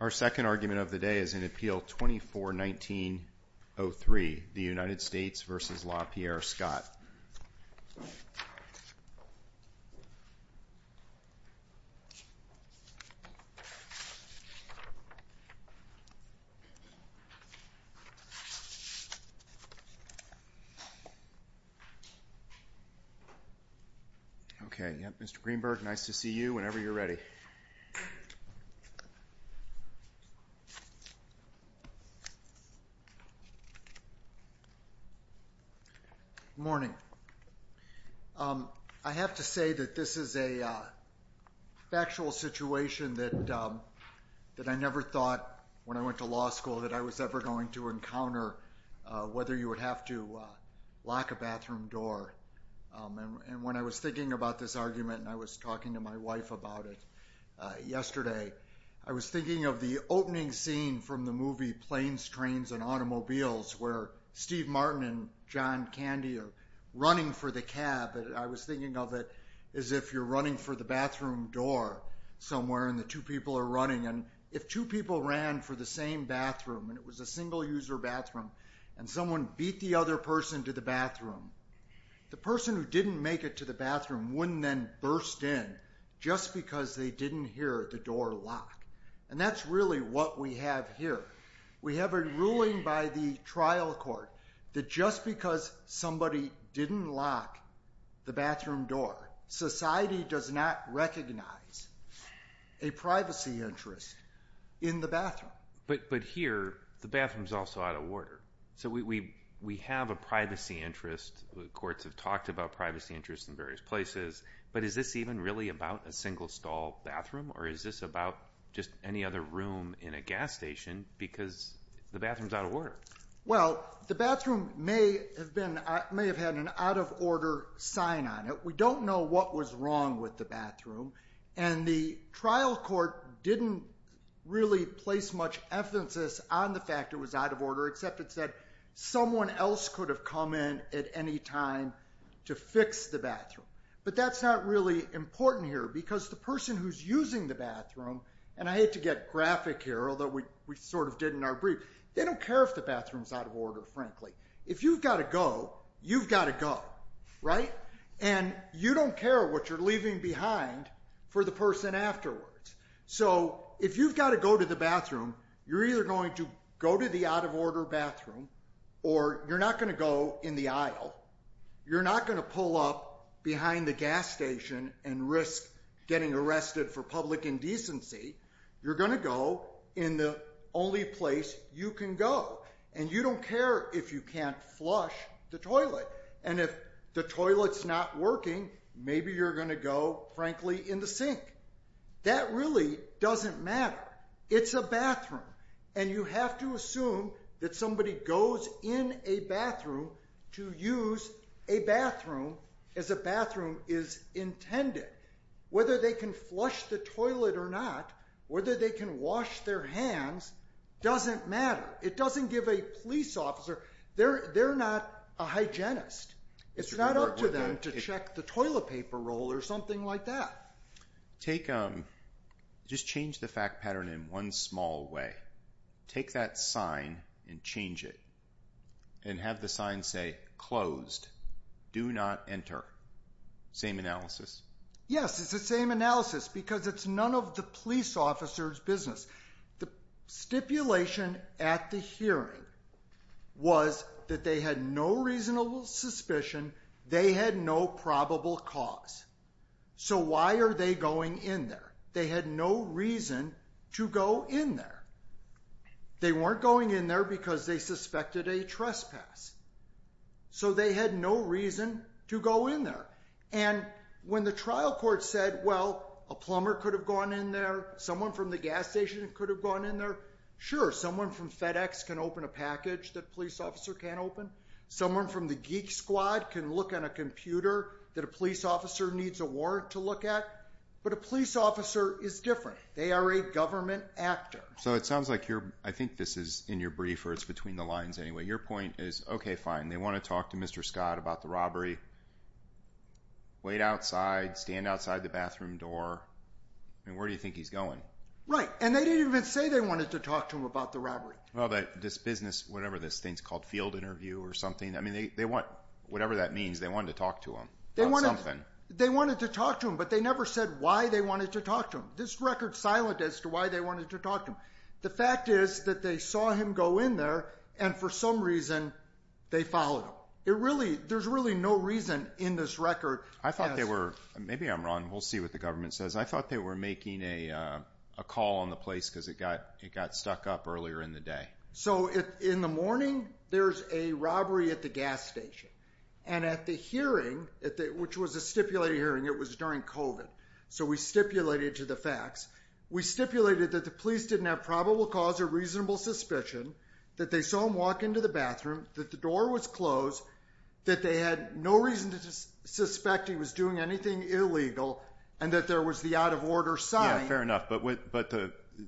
Our second argument of the day is in Appeal 24-19-03, the United States v. Lapierre Scott. Okay, Mr. Greenberg, nice to see you whenever you're ready. Good morning. I have to say that this is a factual situation that I never thought, when I went to law school, that I was ever going to encounter, whether you would have to lock a bathroom door. And when I was thinking about this argument, and I was talking to my wife about it yesterday, I was thinking of the opening scene from the movie Planes, Trains, and Automobiles, where Steve Martin and John Candy are running for the cab. I was thinking of it as if you're running for the bathroom door somewhere, and the two people are running. And if two people ran for the same bathroom, and it was a single-user bathroom, and someone beat the other person to the bathroom, the person who didn't make it to the bathroom wouldn't then burst in, just because they didn't hear the door lock. And that's really what we have here. We have a ruling by the trial court that just because somebody didn't lock the bathroom door, society does not recognize a privacy interest in the bathroom. But here, the bathroom's also out of order. So we have a privacy interest. The courts have talked about privacy interests in various places. But is this even really about a single-stall bathroom, or is this about just any other room in a gas station, because the bathroom's out of order? Well, the bathroom may have had an out-of-order sign on it. We don't know what was wrong with the bathroom. And the trial court didn't really place much emphasis on the fact it was out of order, except it said someone else could have come in at any time to fix the bathroom. But that's not really important here, because the person who's using the bathroom, and I hate to get graphic here, although we sort of did in our brief, they don't care if the bathroom's out of order, frankly. If you've got to go, you've got to go, right? And you don't care what you're leaving behind for the person afterwards. So if you've got to go to the bathroom, you're either going to go to the out-of-order bathroom, or you're not going to go in the aisle. You're not going to pull up behind the gas station and risk getting arrested for public indecency. You're going to go in the only place you can go. And you don't care if you can't flush the toilet. And if the toilet's not working, maybe you're going to go, frankly, in the sink. That really doesn't matter. It's a bathroom, and you have to assume that somebody goes in a bathroom to use a bathroom as a bathroom is intended. Whether they can flush the toilet or not, whether they can wash their hands, doesn't matter. It doesn't give a police officer – they're not a hygienist. It's not up to them to check the toilet paper roll or something like that. Just change the fact pattern in one small way. Take that sign and change it. And have the sign say, closed, do not enter. Same analysis? Yes, it's the same analysis, because it's none of the police officer's business. The stipulation at the hearing was that they had no reasonable suspicion. They had no probable cause. So why are they going in there? They had no reason to go in there. They weren't going in there because they suspected a trespass. So they had no reason to go in there. And when the trial court said, well, a plumber could have gone in there, someone from the gas station could have gone in there, sure, someone from FedEx can open a package that a police officer can't open. Someone from the geek squad can look on a computer that a police officer needs a warrant to look at. But a police officer is different. They are a government actor. So it sounds like you're – I think this is in your brief, or it's between the lines anyway. Your point is, okay, fine, they want to talk to Mr. Scott about the robbery. Wait outside, stand outside the bathroom door. I mean, where do you think he's going? Right, and they didn't even say they wanted to talk to him about the robbery. Well, this business, whatever this thing's called, field interview or something, I mean, they want – whatever that means, they wanted to talk to him about something. They wanted to talk to him, but they never said why they wanted to talk to him. This record's silent as to why they wanted to talk to him. The fact is that they saw him go in there, and for some reason they followed him. There's really no reason in this record. I thought they were – maybe I'm wrong. We'll see what the government says. I thought they were making a call on the place because it got stuck up earlier in the day. So in the morning there's a robbery at the gas station, and at the hearing, which was a stipulated hearing, it was during COVID, so we stipulated to the facts. We stipulated that the police didn't have probable cause or reasonable suspicion, that they saw him walk into the bathroom, that the door was closed, that they had no reason to suspect he was doing anything illegal, and that there was the out-of-order sign. Yeah, fair enough, but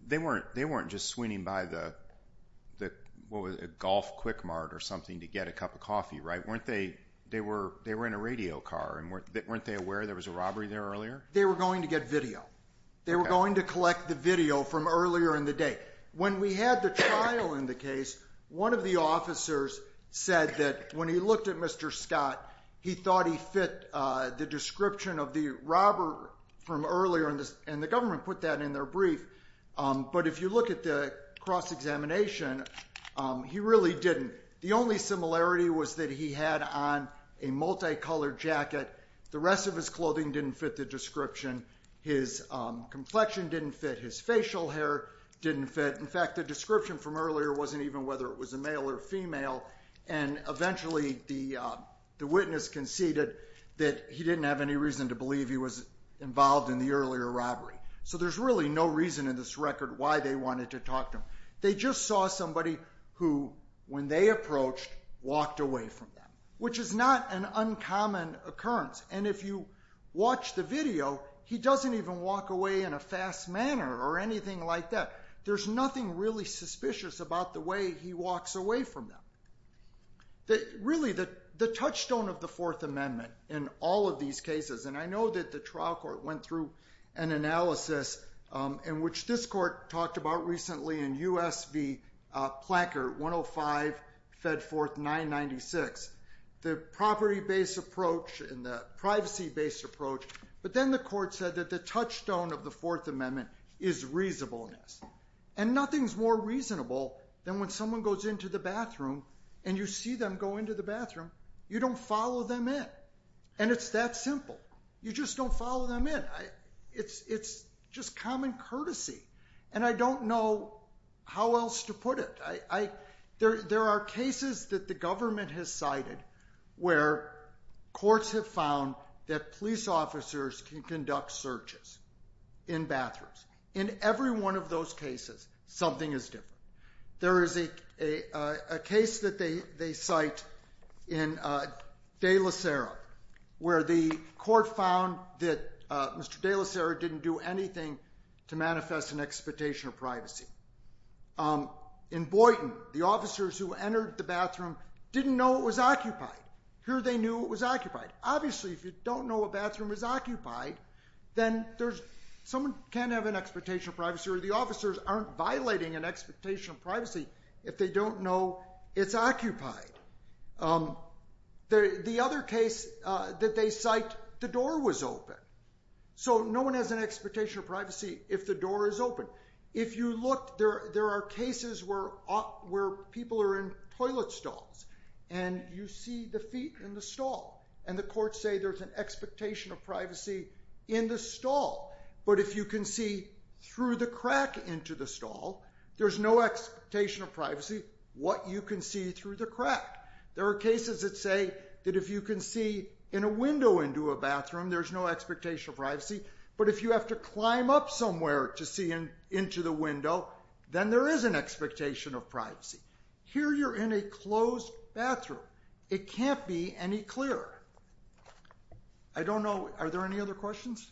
they weren't just swinging by the, what was it, a golf quick mart or something to get a cup of coffee, right? Weren't they – they were in a radio car, and weren't they aware there was a robbery there earlier? They were going to get video. They were going to collect the video from earlier in the day. When we had the trial in the case, one of the officers said that when he looked at Mr. Scott, he thought he fit the description of the robber from earlier, and the government put that in their brief. But if you look at the cross-examination, he really didn't. The only similarity was that he had on a multicolored jacket. The rest of his clothing didn't fit the description. His complexion didn't fit. His facial hair didn't fit. In fact, the description from earlier wasn't even whether it was a male or female, and eventually the witness conceded that he didn't have any reason to believe he was involved in the earlier robbery. So there's really no reason in this record why they wanted to talk to him. They just saw somebody who, when they approached, walked away from them, which is not an uncommon occurrence. And if you watch the video, he doesn't even walk away in a fast manner or anything like that. There's nothing really suspicious about the way he walks away from them. Really, the touchstone of the Fourth Amendment in all of these cases, and I know that the trial court went through an analysis, which this court talked about recently in U.S. v. Planker, 105, Fed Fourth, 996, the property-based approach and the privacy-based approach. But then the court said that the touchstone of the Fourth Amendment is reasonableness, and nothing's more reasonable than when someone goes into the bathroom and you see them go into the bathroom, you don't follow them in. And it's that simple. You just don't follow them in. It's just common courtesy, and I don't know how else to put it. There are cases that the government has cited where courts have found that police officers can conduct searches in bathrooms. In every one of those cases, something is different. There is a case that they cite in De La Sera, where the court found that Mr. De La Sera didn't do anything to manifest an expectation of privacy. In Boynton, the officers who entered the bathroom didn't know it was occupied. Here they knew it was occupied. Obviously, if you don't know a bathroom is occupied, then someone can have an expectation of privacy, or the officers aren't violating an expectation of privacy if they don't know it's occupied. The other case that they cite, the door was open. So no one has an expectation of privacy if the door is open. If you look, there are cases where people are in toilet stalls, and you see the feet in the stall, and the courts say there's an expectation of privacy in the stall. But if you can see through the crack into the stall, there's no expectation of privacy what you can see through the crack. There are cases that say that if you can see in a window into a bathroom, there's no expectation of privacy. But if you have to climb up somewhere to see into the window, then there is an expectation of privacy. Here you're in a closed bathroom. It can't be any clearer. I don't know. Are there any other questions?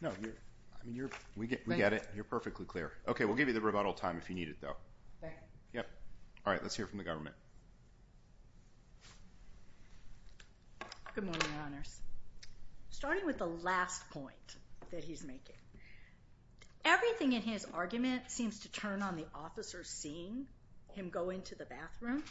No. I mean, we get it. You're perfectly clear. Okay, we'll give you the rebuttal time if you need it, though. Okay. Yep. All right, let's hear from the government. Good morning, Your Honors. Starting with the last point that he's making. Everything in his argument seems to turn on the officer seeing him go into the bathroom.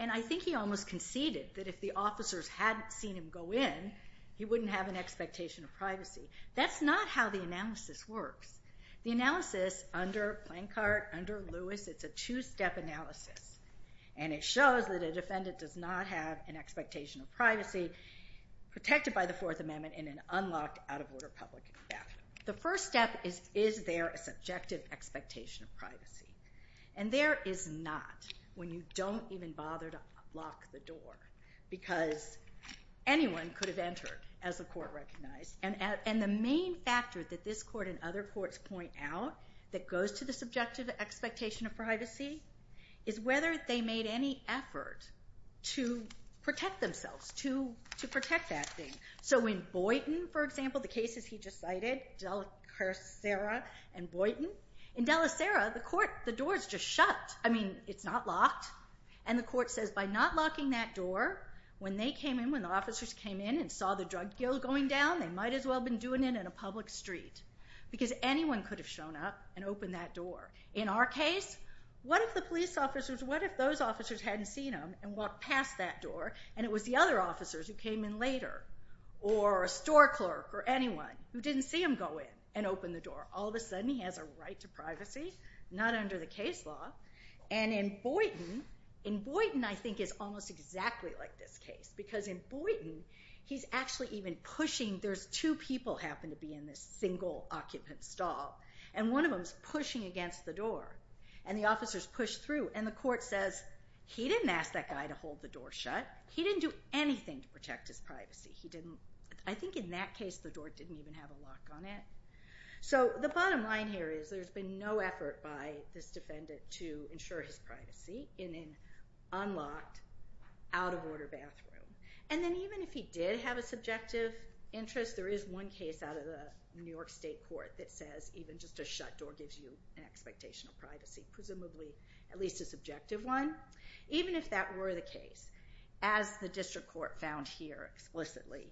And I think he almost conceded that if the officers hadn't seen him go in, he wouldn't have an expectation of privacy. That's not how the analysis works. The analysis under Plancart, under Lewis, it's a two-step analysis, and it shows that a defendant does not have an expectation of privacy protected by the Fourth Amendment in an unlocked, out-of-order public bathroom. The first step is, is there a subjective expectation of privacy? And there is not when you don't even bother to lock the door because anyone could have entered, as the court recognized. And the main factor that this court and other courts point out that goes to the subjective expectation of privacy is whether they made any effort to protect themselves, to protect that thing. So in Boynton, for example, the cases he just cited, Delacera and Boynton, in Delacera, the door is just shut. I mean, it's not locked, and the court says by not locking that door, when they came in, when the officers came in and saw the drug deal going down, they might as well have been doing it in a public street because anyone could have shown up and opened that door. In our case, what if the police officers, what if those officers hadn't seen him and walked past that door, and it was the other officers who came in later, or a store clerk or anyone who didn't see him go in and open the door? All of a sudden, he has a right to privacy, not under the case law. And in Boynton, in Boynton, I think it's almost exactly like this case because in Boynton, he's actually even pushing. There's two people happen to be in this single occupant stall, and one of them is pushing against the door, and the officers push through, and the court says, he didn't ask that guy to hold the door shut. He didn't do anything to protect his privacy. I think in that case, the door didn't even have a lock on it. So the bottom line here is there's been no effort by this defendant to ensure his privacy in an unlocked, out-of-order bathroom. And then even if he did have a subjective interest, there is one case out of the New York State court that says even just a shut door gives you an expectation of privacy, presumably at least a subjective one. Even if that were the case, as the district court found here explicitly,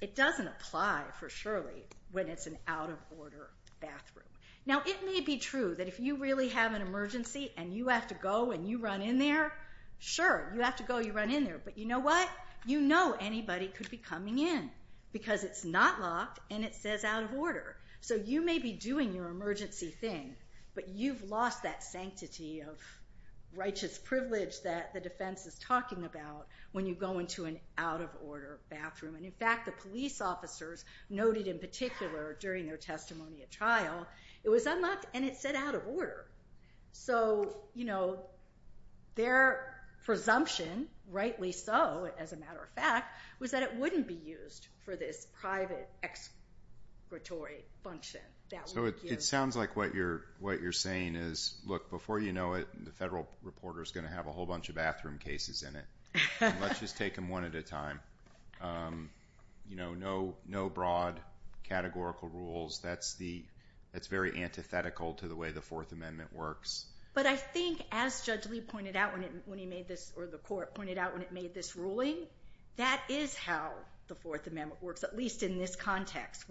it doesn't apply for Shirley when it's an out-of-order bathroom. Now, it may be true that if you really have an emergency and you have to go and you run in there, sure, you have to go, you run in there, but you know what? You know anybody could be coming in because it's not locked and it says out-of-order. So you may be doing your emergency thing, but you've lost that sanctity of righteous privilege that the defense is talking about when you go into an out-of-order bathroom. And in fact, the police officers noted in particular during their testimony at trial, it was unlocked and it said out-of-order. So, you know, their presumption, rightly so as a matter of fact, was that it wouldn't be used for this private expiratory function. So it sounds like what you're saying is, look, before you know it, the federal reporter is going to have a whole bunch of bathroom cases in it. Let's just take them one at a time. You know, no broad categorical rules. That's very antithetical to the way the Fourth Amendment works. But I think as Judge Lee pointed out when he made this, or the court pointed out when it made this ruling, that is how the Fourth Amendment works, at least in this context.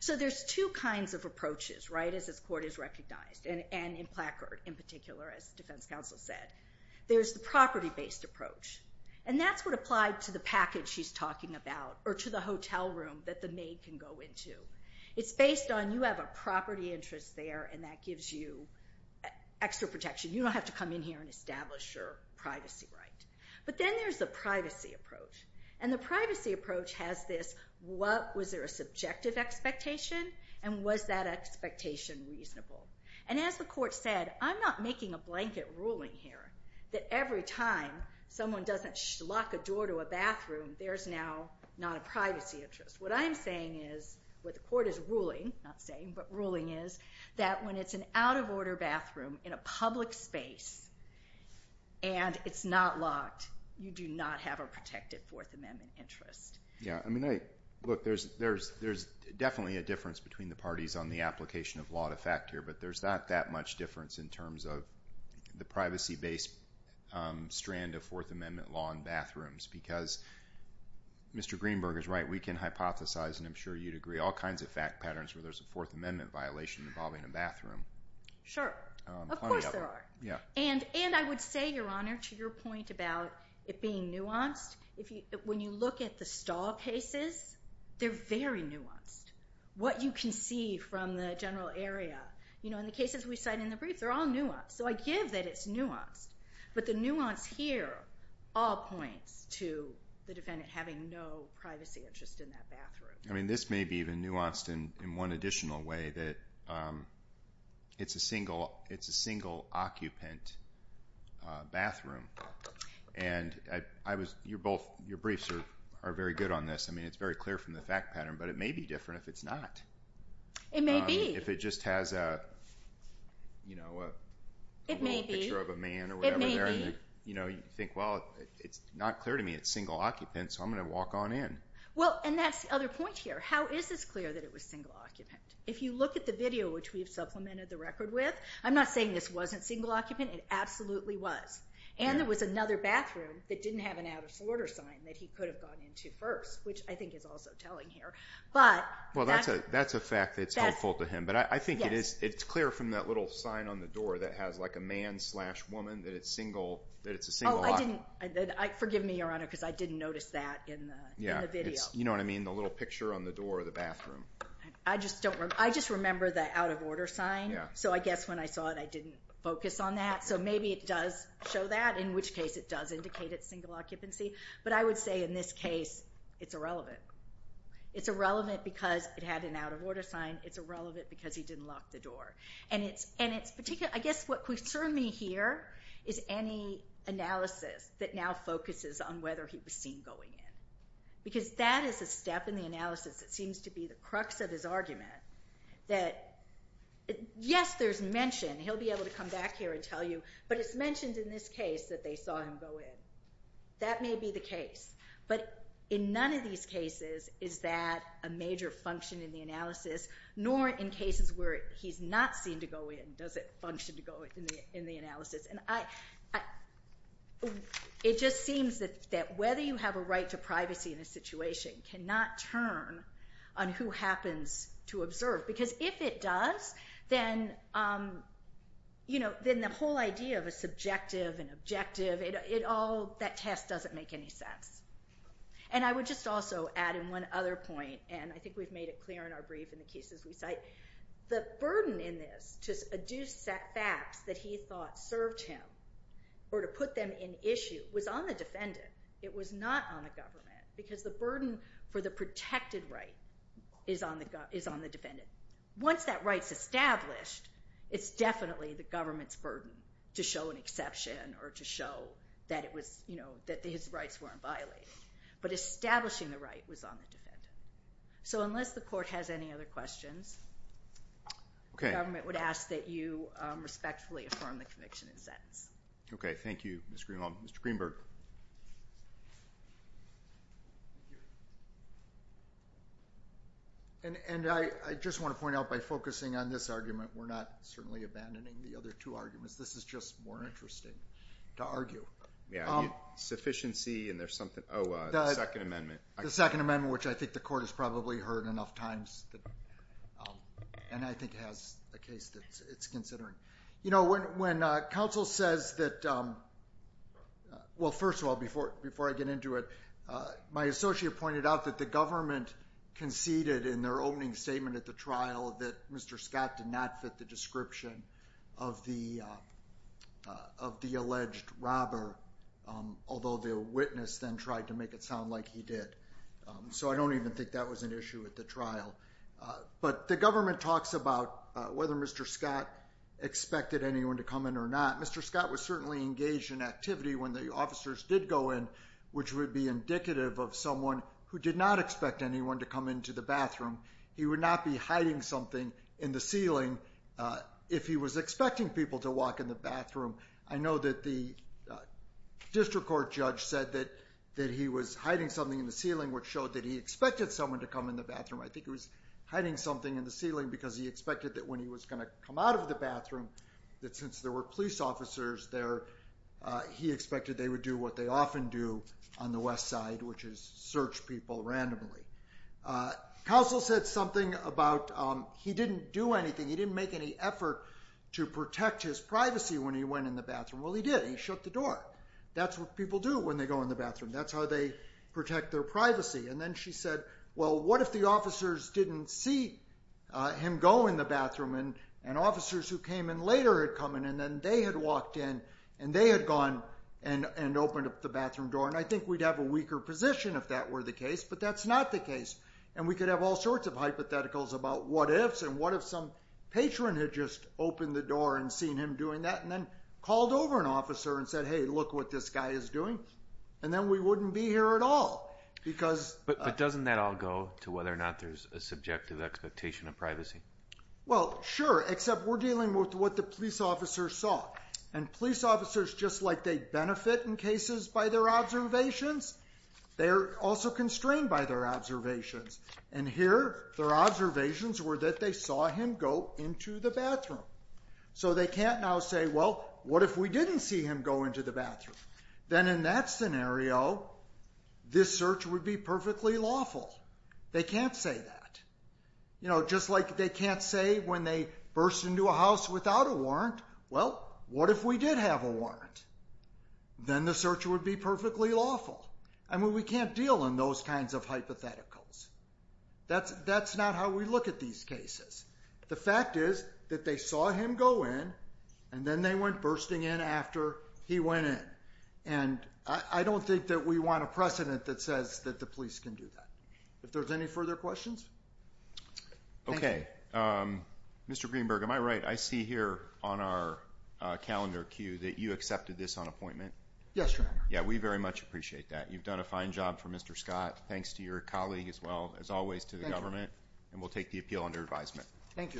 So there's two kinds of approaches, right, as this court has recognized, and in Placard in particular, as the defense counsel said. There's the property-based approach. And that's what applied to the package she's talking about, or to the hotel room that the maid can go into. It's based on you have a property interest there, and that gives you extra protection. You don't have to come in here and establish your privacy right. But then there's the privacy approach. And the privacy approach has this, was there a subjective expectation, and was that expectation reasonable? And as the court said, I'm not making a blanket ruling here that every time someone doesn't lock a door to a bathroom, there's now not a privacy interest. What I'm saying is, what the court is ruling, not saying, but ruling is, that when it's an out-of-order bathroom in a public space, and it's not locked, you do not have a protected Fourth Amendment interest. Yeah. Look, there's definitely a difference between the parties on the application of law to fact here, but there's not that much difference in terms of the privacy-based strand of Fourth Amendment law in bathrooms. Because Mr. Greenberg is right, we can hypothesize, and I'm sure you'd agree, all kinds of fact patterns where there's a Fourth Amendment violation involving a bathroom. Sure. Plenty of them. Of course there are. And I would say, Your Honor, to your point about it being nuanced, when you look at the stall cases, they're very nuanced. What you can see from the general area, you know, in the cases we cite in the brief, they're all nuanced. So I give that it's nuanced. But the nuance here all points to the defendant having no privacy interest in that bathroom. I mean, this may be even nuanced in one additional way, that it's a single occupant bathroom. And your briefs are very good on this. I mean, it's very clear from the fact pattern, but it may be different if it's not. It may be. If it just has a little picture of a man or whatever there. You know, you think, well, it's not clear to me. It's single occupant, so I'm going to walk on in. Well, and that's the other point here. How is this clear that it was single occupant? If you look at the video, which we've supplemented the record with, I'm not saying this wasn't single occupant. It absolutely was. And there was another bathroom that didn't have an out-of-order sign that he could have gone into first, which I think is also telling here. Well, that's a fact that's helpful to him. But I think it's clear from that little sign on the door that has like a man slash woman, that it's a single occupant. Oh, I didn't. Forgive me, Your Honor, because I didn't notice that in the video. You know what I mean? The little picture on the door of the bathroom. I just remember the out-of-order sign. So I guess when I saw it, I didn't focus on that. So maybe it does show that, in which case it does indicate it's single occupancy. But I would say in this case, it's irrelevant. It's irrelevant because it had an out-of-order sign. It's irrelevant because he didn't lock the door. And I guess what concerned me here is any analysis that now focuses on whether he was seen going in. Because that is a step in the analysis that seems to be the crux of his argument that, yes, there's mention. He'll be able to come back here and tell you, but it's mentioned in this case that they saw him go in. That may be the case. But in none of these cases is that a major function in the analysis, nor in cases where he's not seen to go in, does it function to go in the analysis. And it just seems that whether you have a right to privacy in a situation cannot turn on who happens to observe. Because if it does, then the whole idea of a subjective and objective, that test doesn't make any sense. And I would just also add in one other point, and I think we've made it clear in our brief in the cases we cite, the burden in this to adduce facts that he thought served him or to put them in issue was on the defendant. It was not on the government. Because the burden for the protected right is on the defendant. Once that right's established, it's definitely the government's burden to show an exception or to show that his rights weren't violated. But establishing the right was on the defendant. So unless the court has any other questions, the government would ask that you respectfully affirm the conviction and sentence. Okay, thank you, Mr. Greenhalgh. And I just want to point out by focusing on this argument, we're not certainly abandoning the other two arguments. This is just more interesting to argue. Yeah, sufficiency and there's something. Oh, the Second Amendment. The Second Amendment, which I think the court has probably heard enough times and I think has a case that it's considering. You know, when counsel says that, well, first of all, before I get into it, my associate pointed out that the government conceded in their opening statement at the trial that Mr. Scott did not fit the description of the alleged robber, although the witness then tried to make it sound like he did. So I don't even think that was an issue at the trial. But the government talks about whether Mr. Scott expected anyone to come in or not. Mr. Scott was certainly engaged in activity when the officers did go in, which would be indicative of someone who did not expect anyone to come into the bathroom. He would not be hiding something in the ceiling if he was expecting people to walk in the bathroom. I know that the district court judge said that he was hiding something in the ceiling, which showed that he expected someone to come in the bathroom. I think he was hiding something in the ceiling because he expected that when he was going to come out of the bathroom, that since there were police officers there, he expected they would do what they often do on the West Side, which is search people randomly. Counsel said something about he didn't do anything. He didn't make any effort to protect his privacy when he went in the bathroom. Well, he did. He shut the door. That's what people do when they go in the bathroom. That's how they protect their privacy. Then she said, well, what if the officers didn't see him go in the bathroom and officers who came in later had come in and then they had walked in and they had gone and opened up the bathroom door. I think we'd have a weaker position if that were the case, but that's not the case. We could have all sorts of hypotheticals about what ifs and what if some patron had just opened the door and seen him doing that and then called over an officer and said, hey, look what this guy is doing. And then we wouldn't be here at all. But doesn't that all go to whether or not there's a subjective expectation of privacy? Well, sure, except we're dealing with what the police officers saw. And police officers, just like they benefit in cases by their observations, they're also constrained by their observations. And here their observations were that they saw him go into the bathroom. So they can't now say, well, what if we didn't see him go into the bathroom? Then in that scenario, this search would be perfectly lawful. They can't say that. You know, just like they can't say when they burst into a house without a warrant, well, what if we did have a warrant? Then the search would be perfectly lawful. I mean, we can't deal in those kinds of hypotheticals. That's not how we look at these cases. The fact is that they saw him go in, and then they went bursting in after he went in. And I don't think that we want a precedent that says that the police can do that. If there's any further questions? Okay. Mr. Greenberg, am I right? I see here on our calendar cue that you accepted this on appointment. Yes, Your Honor. Yeah, we very much appreciate that. You've done a fine job for Mr. Scott. Thanks to your colleague as well, as always, to the government. And we'll take the appeal under advisement. Thank you.